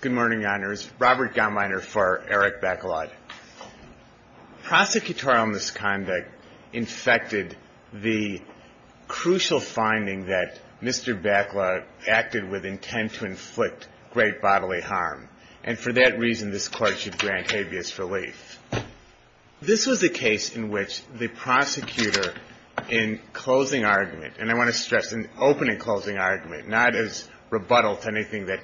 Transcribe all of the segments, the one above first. Good morning, Your Honors. Robert Gauminer for Eric Bacolod. Prosecutorial misconduct infected the crucial finding that Mr. Bacolod acted with intent to inflict great bodily harm. And for that reason, this Court should grant habeas relief. This was a case in which the prosecutor, in closing argument, and I want to stress, in opening closing argument, not as rebuttal to anything that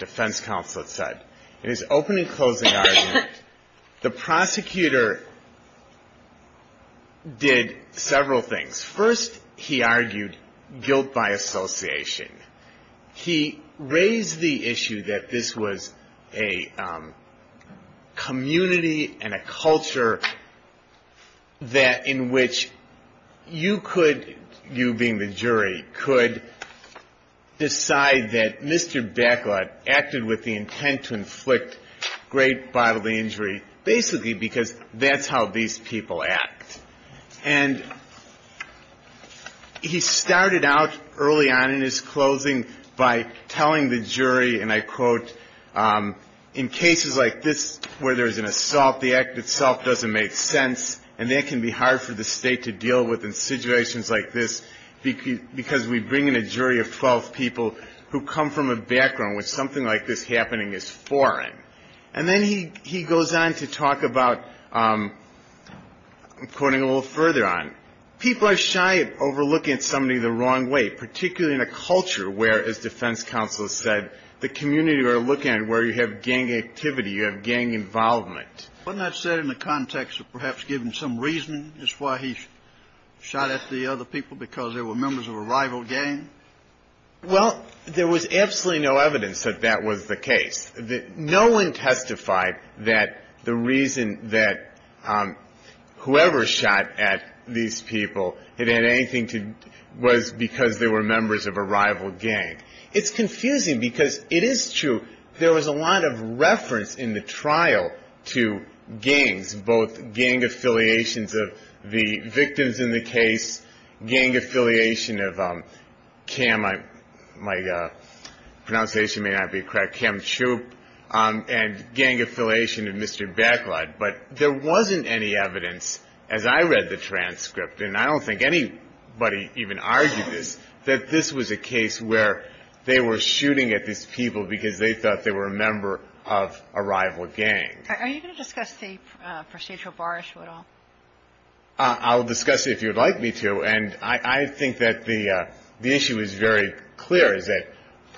First, he argued guilt by association. He raised the issue that this was a community and a culture that in which you could, you being the jury, could decide that Mr. Bacolod acted with the intent to inflict great bodily injury, basically because that's how these people act. And he started out early on in his closing by telling the jury, and I quote, in cases like this where there's an assault, the act itself doesn't make sense, and that can be hard for the State to deal with in situations like this because we bring in a jury of 12 people who come from a background where something like this happening is foreign. And then he goes on to talk about, I'm quoting a little further on, people are shy over looking at somebody the wrong way, particularly in a culture where, as defense counsel has said, the community you are looking at where you have gang activity, you have gang involvement. Wasn't that said in the context of perhaps giving some reason as to why he shot at the other people because they were members of a rival gang? Well, there was absolutely no evidence that that was the case. No one testified that the reason that whoever shot at these people, it had anything to do, was because they were members of a rival gang. It's confusing because it is true. There was a lot of reference in the trial to gangs, both gang affiliations of the victims in the case, gang affiliation of Cam, my pronunciation may not be correct, Cam Choup, and gang affiliation of Mr. Backlund. But there wasn't any evidence, as I read the transcript, and I don't think anybody even argued this, that this was a case where they were shooting at these people because they thought they were a member of a rival gang. Are you going to discuss the procedural bar issue at all? I'll discuss it if you'd like me to. And I think that the issue is very clear, is that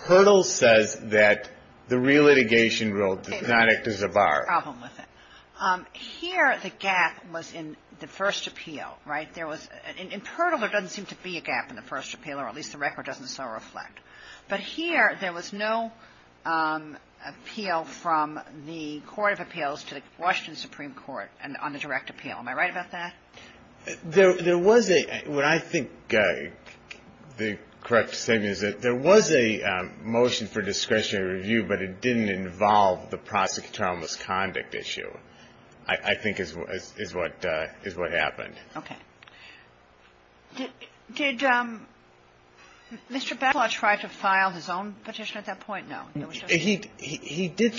Pertl says that the re-litigation rule does not act as a bar. There's a problem with it. Here, the gap was in the first appeal, right? There was — in Pertl, there doesn't seem to be a gap in the first appeal, or at least the record doesn't so reflect. But here, there was no appeal from the Court of Appeals to the Washington Supreme Court on a direct appeal. Am I right about that? There was a — what I think the correct statement is that there was a motion for discretionary review, but it didn't involve the prosecutorial misconduct issue, I think is what happened. Okay. Did Mr. Baslaw try to file his own petition at that point? No. He did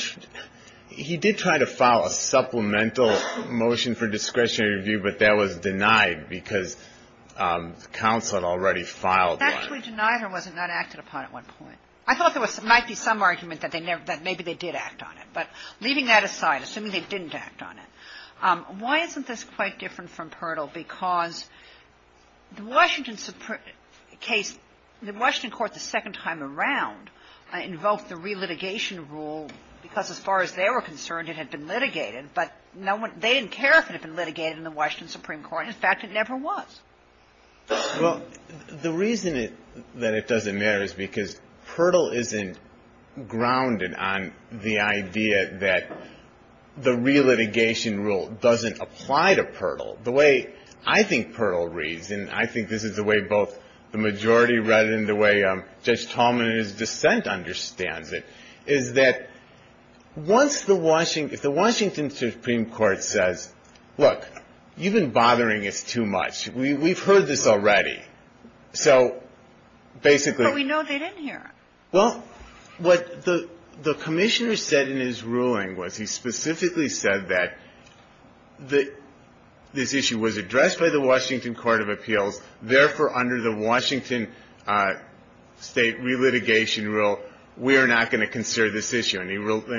try to file a supplemental motion for discretionary review, but that was denied because counsel had already filed one. That was denied or was it not acted upon at one point? I thought there might be some argument that maybe they did act on it. But leaving that aside, assuming they didn't act on it, why isn't this quite different from Pertl? Because the Washington Supreme — the case — the Washington court the second time around invoked the re-litigation rule because as far as they were concerned, it had been litigated. But no one — they didn't care if it had been litigated in the Washington Supreme Court. In fact, it never was. Well, the reason that it doesn't matter is because Pertl isn't grounded on the idea that the re-litigation rule doesn't apply to Pertl. The way I think Pertl reads, and I think this is the way both the majority read it and the way Judge Tallman in his dissent understands it, is that once the Washington — the Washington court of appeals says, look, you've been bothering us too much. We've heard this already. So basically — But we know they didn't hear it. Well, what the commissioner said in his ruling was he specifically said that this issue was addressed by the Washington court of appeals. Therefore, under the Washington state re-litigation rule, we are not going to consider this issue. And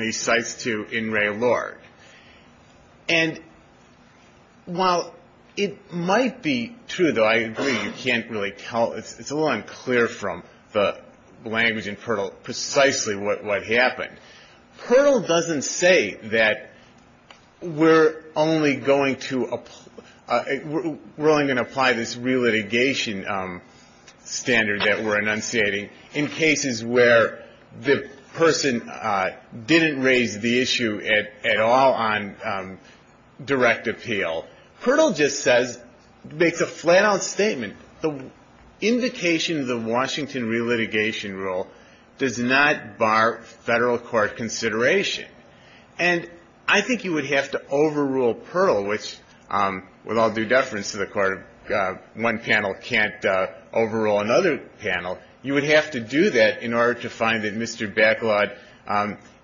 he cites to In re Lord. And while it might be true, though, I agree you can't really tell — it's a little unclear from the language in Pertl precisely what happened. Pertl doesn't say that we're only going to — we're only going to apply this re-litigation standard that we're enunciating in cases where the person didn't raise the issue at all on direct appeal. Pertl just says — makes a flat-out statement. The indication of the Washington re-litigation rule does not bar Federal court consideration. And I think you would have to overrule Pertl, which, with all due deference to the court, one panel can't overrule another panel. You would have to do that in order to find that Mr. Backlod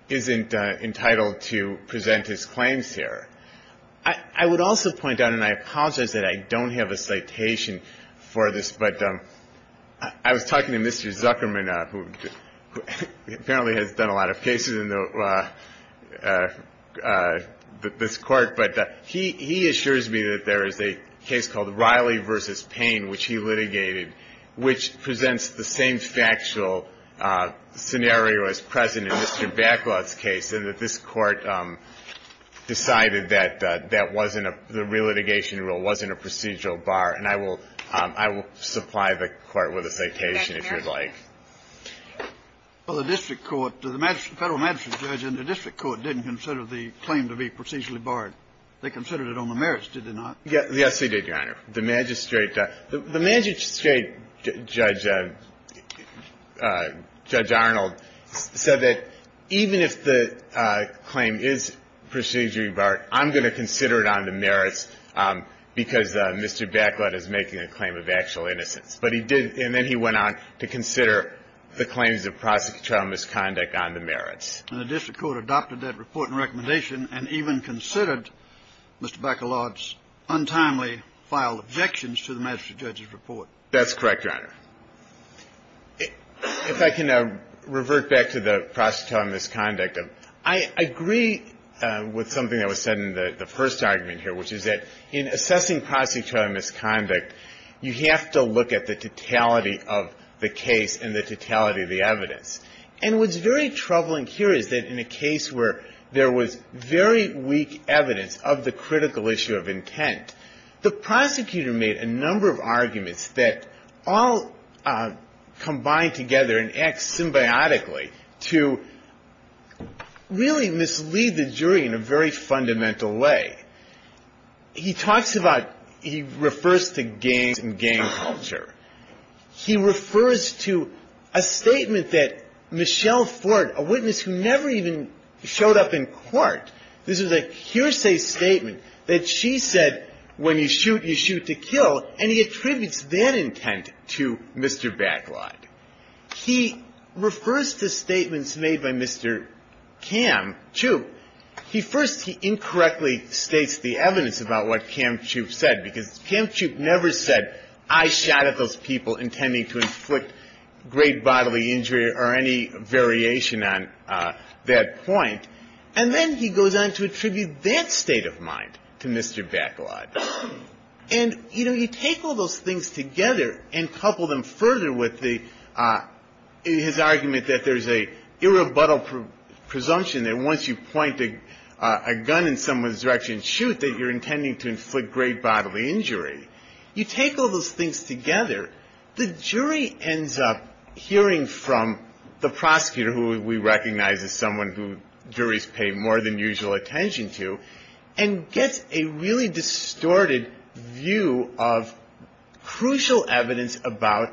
isn't entitled to present his claims here. I would also point out, and I apologize that I don't have a citation for this, but I was talking to Mr. Zuckerman, who apparently has done a lot of cases in this court. But he — he assures me that there is a case called Riley v. Payne, which he litigated, which presents the same factual scenario as present in Mr. Backlod's case, and that this Court decided that that wasn't a — the re-litigation rule wasn't a procedural bar. And I will — I will supply the Court with a citation, if you would like. Well, the district court — the Federal magistrate judge in the district court didn't consider the claim to be procedurally barred. They considered it on the merits, did they not? Yes, they did, Your Honor. The magistrate — the magistrate judge, Judge Arnold, said that even if the claim is procedurally barred, I'm going to consider it on the merits because Mr. Backlod is making a claim of actual innocence. But he did — and then he went on to consider the claims of prosecutorial misconduct on the merits. And the district court adopted that report and recommendation and even considered Mr. Backlod's untimely filed objections to the magistrate judge's report. That's correct, Your Honor. If I can revert back to the prosecutorial misconduct, I agree with something that was said in the — the first argument here, which is that in assessing prosecutorial misconduct, you have to look at the totality of the case and the totality of the evidence. And what's very troubling here is that in a case where there was very weak evidence of the critical issue of intent, the prosecutor made a number of arguments that all combined together and act symbiotically to really mislead the jury in a very fundamental way. He talks about — he refers to gangs and gang culture. He refers to a statement that Michelle Ford, a witness who never even showed up in court, this was a hearsay statement that she said, when you shoot, you shoot to kill, and he attributes that intent to Mr. Backlod. He refers to statements made by Mr. Cam, too. He first — he incorrectly states the evidence about what Cam Chiup said, because Cam Chiup never said, I shot at those people intending to inflict great bodily injury or any variation on that point. And then he goes on to attribute that state of mind to Mr. Backlod. And, you know, you take all those things together and couple them further with the — his argument that there's an irrebuttable presumption that once you point a gun in someone's direction and shoot, that you're intending to inflict great bodily injury. You take all those things together, the jury ends up hearing from the prosecutor, who we recognize as someone who juries pay more than usual attention to, and gets a really distorted view of crucial evidence about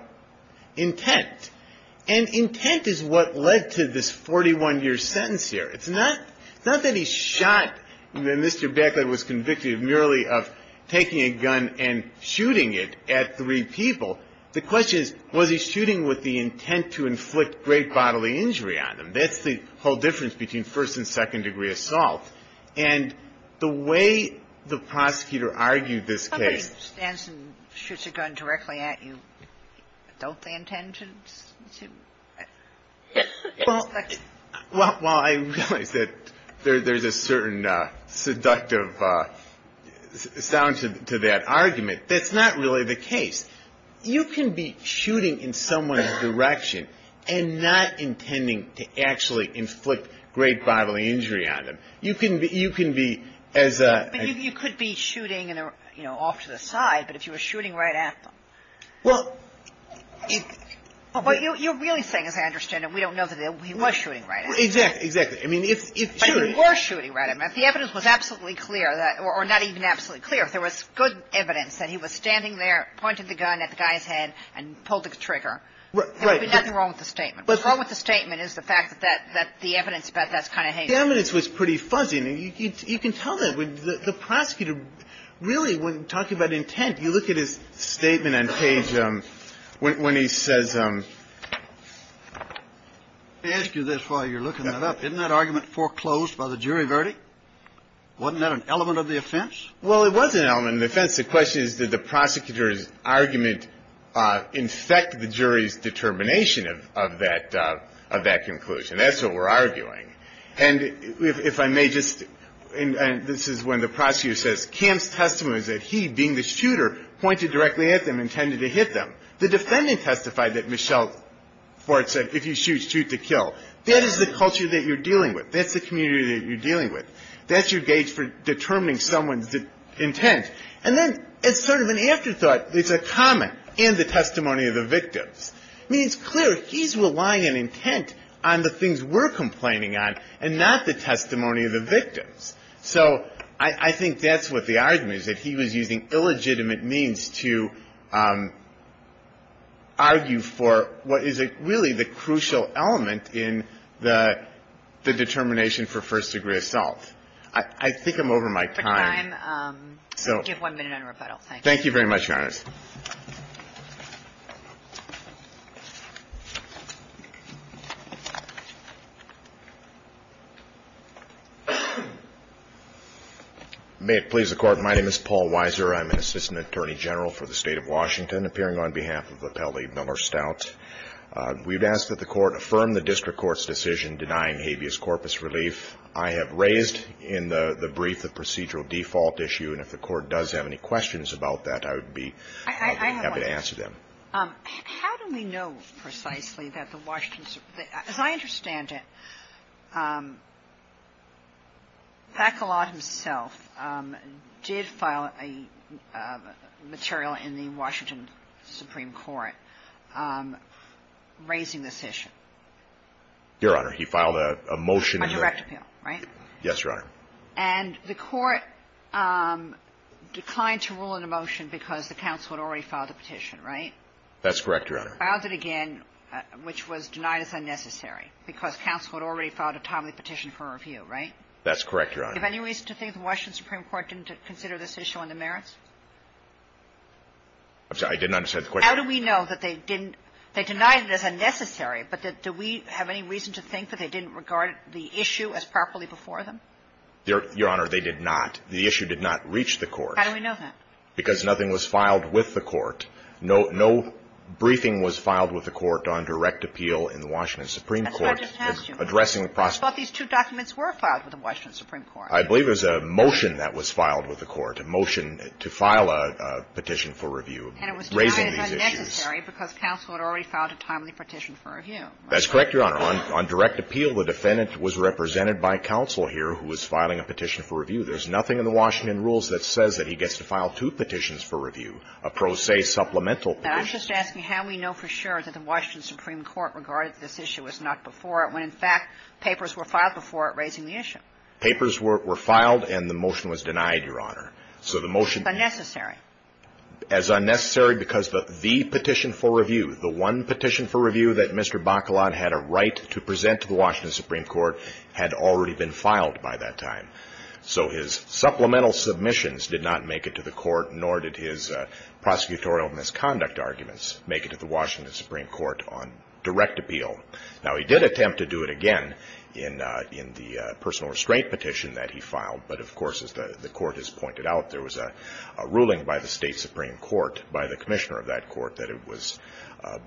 intent. And intent is what led to this 41-year sentence here. It's not that he shot — Mr. Backlod was convicted merely of taking a gun and shooting it at three people. The question is, was he shooting with the intent to inflict great bodily injury on them? That's the whole difference between first and second degree assault. And the way the prosecutor argued this case — And if someone shoots a gun directly at you, don't they intend to — Well, I realize that there's a certain seductive sound to that argument. That's not really the case. You can be shooting in someone's direction and not intending to actually inflict great bodily injury on them. You can be — You could be shooting, you know, off to the side. But if you were shooting right at them — Well, it — You're really saying, as I understand it, we don't know that he was shooting right at them. Exactly. Exactly. I mean, if — But he was shooting right at them. If the evidence was absolutely clear, or not even absolutely clear, if there was good evidence that he was standing there, pointed the gun at the guy's head, and pulled the trigger, there would be nothing wrong with the statement. What's wrong with the statement is the fact that the evidence about that's kind of hazy. The evidence was pretty fuzzy. I mean, you can tell that the prosecutor, really, when talking about intent, you look at his statement on page — when he says — Let me ask you this while you're looking that up. Isn't that argument foreclosed by the jury verdict? Wasn't that an element of the offense? Well, it was an element of the offense. The question is, did the prosecutor's argument infect the jury's determination of that — of that conclusion? That's what we're arguing. And if I may just — and this is when the prosecutor says, Cam's testimony is that he, being the shooter, pointed directly at them, intended to hit them. The defendant testified that Michelle Fort said, if you shoot, shoot to kill. That is the culture that you're dealing with. That's the community that you're dealing with. That's your gauge for determining someone's intent. And then, as sort of an afterthought, it's a comment in the testimony of the victims. I mean, it's clear he's relying on intent on the things we're complaining on and not the testimony of the victims. So I think that's what the argument is, that he was using illegitimate means to argue for what is really the crucial element in the determination for first-degree assault. I think I'm over my time. For time, give one minute on rebuttal. Thank you very much, Your Honors. May it please the Court. My name is Paul Weiser. I'm an Assistant Attorney General for the State of Washington, appearing on behalf of Appellee Miller Stout. We've asked that the Court affirm the district court's decision denying habeas corpus relief. I have raised in the brief the procedural default issue. And if the Court does have any questions about that, I would be happy to answer them. How do we know precisely that the Washington — as I understand it, Bacalod himself did file a material in the Washington Supreme Court raising this issue? Your Honor, he filed a motion — A direct appeal, right? Yes, Your Honor. And the Court declined to rule in the motion because the counsel had already filed a petition, right? That's correct, Your Honor. Filed it again, which was denied as unnecessary, because counsel had already filed a timely petition for review, right? That's correct, Your Honor. Do you have any reason to think the Washington Supreme Court didn't consider this issue on the merits? I'm sorry. I didn't understand the question. How do we know that they didn't — they denied it as unnecessary, but do we have any reason to think that they didn't regard the issue as properly before them? Your Honor, they did not. The issue did not reach the Court. How do we know that? Because nothing was filed with the Court. No — no briefing was filed with the Court on direct appeal in the Washington Supreme Court. That's what I just asked you. Addressing the process. I thought these two documents were filed with the Washington Supreme Court. I believe it was a motion that was filed with the Court, a motion to file a petition for review, raising these issues. And it was denied as unnecessary because counsel had already filed a timely petition for review. That's correct, Your Honor. On — on direct appeal, the defendant was represented by counsel here who was filing a petition for review. There's nothing in the Washington rules that says that he gets to file two petitions for review, a pro se supplemental petition. I'm just asking how we know for sure that the Washington Supreme Court regarded this issue as not before it, when, in fact, papers were filed before it raising the issue. Papers were — were filed, and the motion was denied, Your Honor. So the motion — As unnecessary. As unnecessary because the — the petition for review, the one petition for review that Mr. Bacolod had a right to present to the Washington Supreme Court had already been filed by that time. So his supplemental submissions did not make it to the Court, nor did his prosecutorial misconduct arguments make it to the Washington Supreme Court on direct appeal. Now, he did attempt to do it again in — in the personal restraint petition that he filed. But, of course, as the — the Court has pointed out, there was a — a ruling by the state Supreme Court, by the commissioner of that court, that it was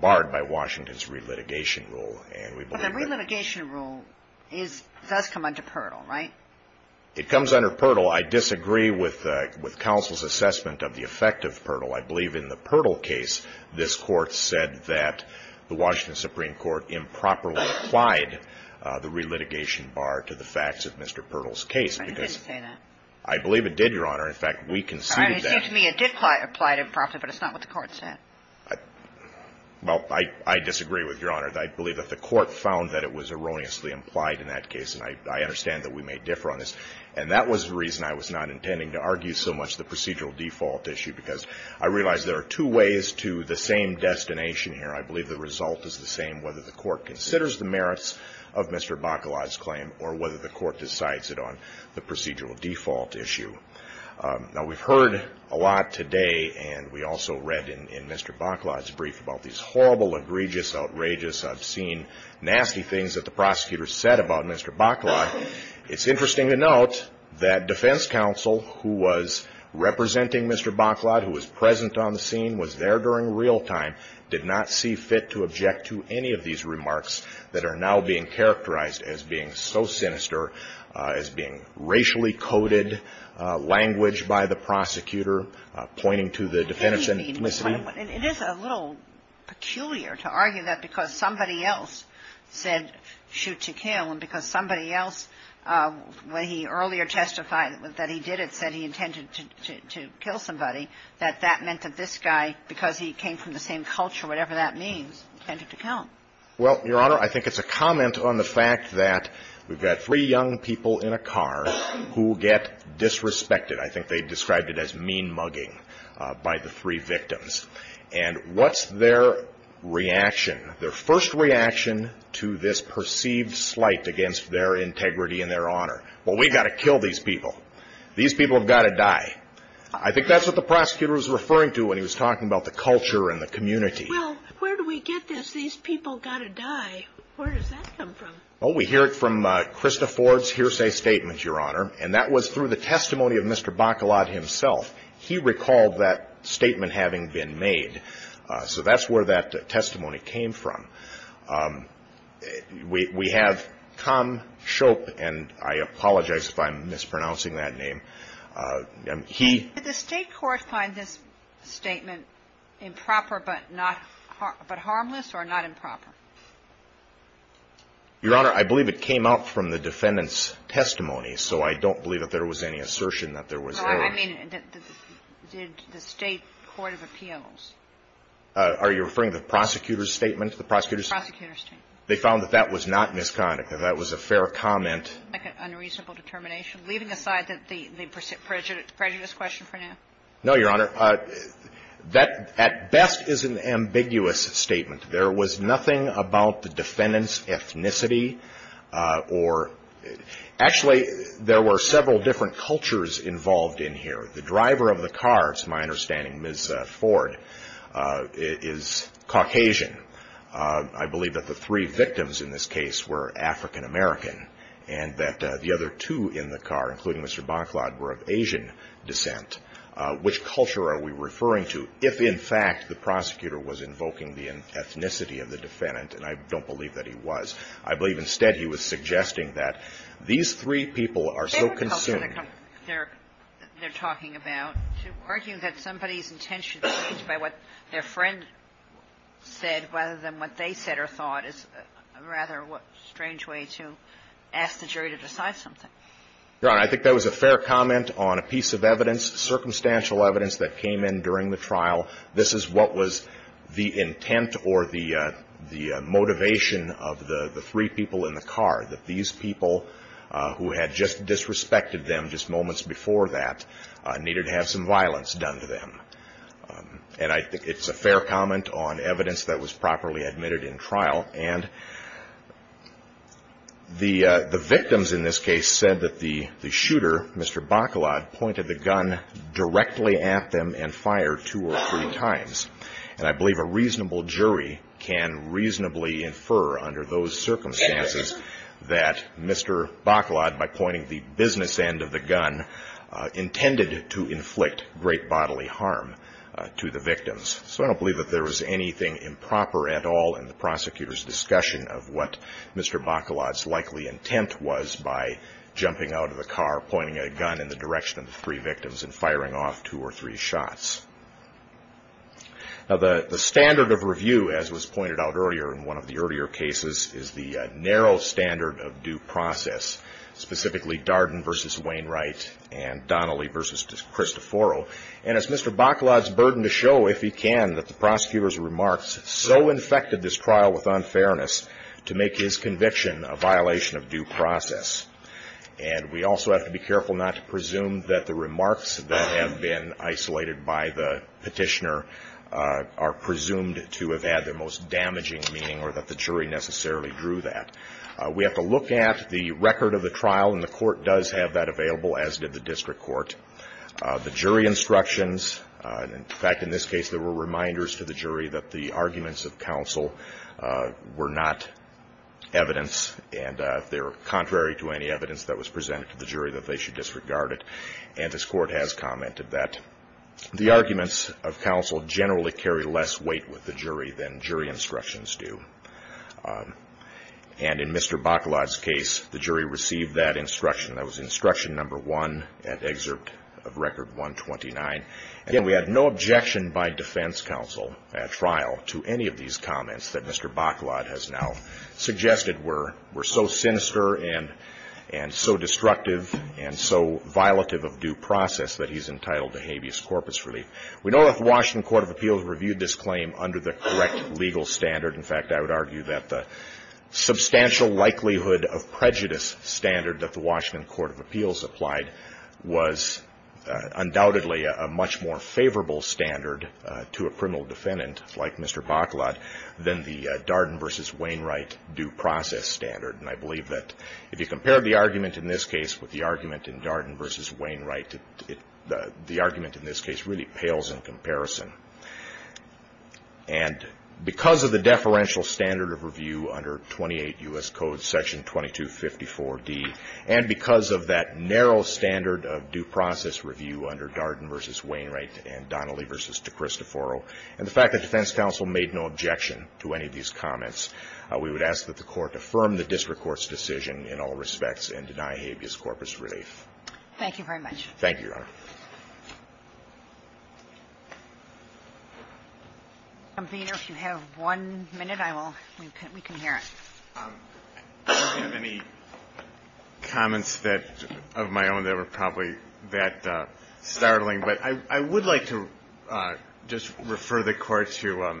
barred by Washington's relitigation rule. And we believe that — But the relitigation rule is — does come under PIRTL, right? It comes under PIRTL. I disagree with — with counsel's assessment of the effect of PIRTL. I believe in the PIRTL case, this Court said that the Washington Supreme Court improperly applied the relitigation bar to the facts of Mr. PIRTL's case. But who didn't say that? I believe it did, Your Honor. In fact, we conceded that. I mean, it seems to me it did apply to improperly, but it's not what the Court said. Well, I — I disagree with Your Honor. I believe that the Court found that it was erroneously implied in that case. And I — I understand that we may differ on this. And that was the reason I was not intending to argue so much the procedural default issue, because I realize there are two ways to the same destination here. I believe the result is the same whether the Court considers the merits of Mr. Bacolod's claim or whether the Court decides it on the procedural default issue. Now, we've heard a lot today, and we also read in — in Mr. Bacolod's brief about these horrible, egregious, outrageous, obscene, nasty things that the prosecutor said about Mr. Bacolod. It's interesting to note that defense counsel, who was representing Mr. Bacolod, who was present on the scene, was there during real time, did not see fit to object to any of these remarks that are now being characterized as being so sinister, as being racially coded language by the prosecutor, pointing to the defendant's infamousity. And it is a little peculiar to argue that because somebody else said, shoot to kill, and because somebody else, when he earlier testified that he did it, said he intended to — to kill somebody, that that meant that this guy, because he came from the same culture, whatever that means, intended to kill him. Well, Your Honor, I think it's a comment on the fact that we've got three young people in a car who get disrespected. I think they described it as mean mugging by the three victims. And what's their reaction, their first reaction to this perceived slight against their integrity and their honor? Well, we've got to kill these people. These people have got to die. I think that's what the prosecutor was referring to when he was talking about the culture and the community. Well, where do we get this, these people got to die? Where does that come from? Well, we hear it from Krista Ford's hearsay statement, Your Honor. And that was through the testimony of Mr. Bacalod himself. He recalled that statement having been made. So that's where that testimony came from. We have Com Shope — and I apologize if I'm mispronouncing that name — he — Did the State court find this statement improper but not — but harmless or not improper? Your Honor, I believe it came out from the defendant's testimony. So I don't believe that there was any assertion that there was — No, I mean, did the State court of appeals — Are you referring to the prosecutor's statement? The prosecutor's — Prosecutor's statement. They found that that was not misconduct, that that was a fair comment. Like an unreasonable determination, leaving aside the prejudice question for now? No, Your Honor. That, at best, is an ambiguous statement. There was nothing about the defendant's ethnicity or — Actually, there were several different cultures involved in here. The driver of the car, it's my understanding, Ms. Ford, is Caucasian. I believe that the three victims in this case were African American, and that the other two in the car, including Mr. Bacalod, were of Asian descent. Which culture are we referring to if, in fact, the prosecutor was invoking the ethnicity of the defendant? And I don't believe that he was. I believe, instead, he was suggesting that these three people are so consumed — Fair culture, they're — they're talking about, to argue that somebody's intention changed by what their friend said rather than what they said or thought is a rather strange way to ask the jury to decide something. Your Honor, I think that was a fair comment on a piece of evidence. Circumstantial evidence that came in during the trial. This is what was the intent or the motivation of the three people in the car. That these people, who had just disrespected them just moments before that, needed to have some violence done to them. And I think it's a fair comment on evidence that was properly admitted in trial. And the victims in this case said that the shooter, Mr. Bacalod, pointed the gun directly at them and fired two or three times. And I believe a reasonable jury can reasonably infer under those circumstances that Mr. Bacalod, by pointing the business end of the gun, intended to inflict great bodily harm to the victims. So I don't believe that there was anything improper at all in the prosecutor's discussion of what Mr. Bacalod's likely intent was by jumping out of the car, pointing a gun in the direction of the three victims, and firing off two or three shots. Now the standard of review, as was pointed out earlier in one of the earlier cases, is the narrow standard of due process. Specifically, Darden v. Wainwright and Donnelly v. Cristoforo. And it's Mr. Bacalod's burden to show, if he can, that the prosecutor's remarks so infected this trial with unfairness to make his conviction a violation of due process. And we also have to be careful not to presume that the remarks that have been isolated by the petitioner are presumed to have had the most damaging meaning or that the jury necessarily drew that. We have to look at the record of the trial, and the court does have that available, as did the district court. The jury instructions, in fact in this case there were reminders to the jury that the arguments of counsel were not evidence, and if they were contrary to any evidence that was presented to the jury, that they should disregard it. And this court has commented that the arguments of counsel generally carry less weight with the jury than jury instructions do. And in Mr. Bacalod's case, the jury received that instruction. That was instruction number one at excerpt of record 129. Again, we had no objection by defense counsel at trial to any of these comments that Mr. Bacalod has now suggested were so sinister and so destructive and so violative of due process that he's entitled to habeas corpus relief. We know that the Washington Court of Appeals reviewed this claim under the correct legal standard. In fact, I would argue that the substantial likelihood of prejudice standard that the Washington Court of Appeals applied was undoubtedly a much more favorable standard to a criminal defendant like Mr. Bacalod than the Darden v. Wainwright due process standard. And I believe that if you compare the argument in this case with the argument in Darden v. Wainwright, the argument in this case really pales in comparison. And because of the deferential standard of review under 28 U.S. Code Section 2254D, and because of that narrow standard of due process review under Darden v. Wainwright and Donnelly v. DeChristoforo, and the fact that defense counsel made no objection to any of these comments, we would ask that the Court affirm the district court's decision in all respects and deny habeas corpus relief. Thank you, Your Honor. Mr. Bader, if you have one minute, we can hear it. I don't have any comments that, of my own, that were probably that startling. But I would like to just refer the Court to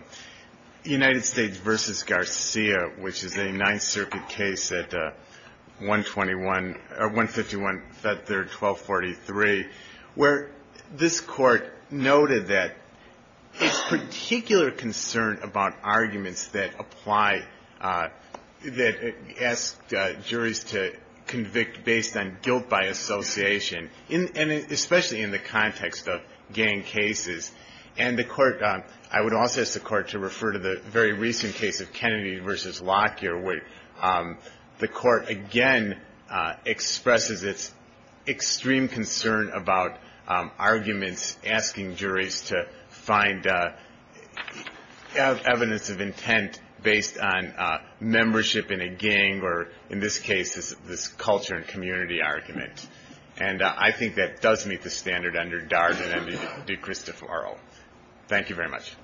United States v. Garcia, which is a Ninth Circuit case at 121 or 151, that they're 1243, where this Court noted that its particular concern about arguments that apply that ask juries to convict based on guilt by association, and especially in the context of gang cases. And the Court – I would also ask the Court to refer to the very recent case of Kennedy v. Lockyer, where the Court again expresses its extreme concern about arguments asking juries to find evidence of intent based on membership in a gang, or in this case, this culture and community argument. And I think that does meet the standard under Darden v. DeChristoforo. Thank you very much.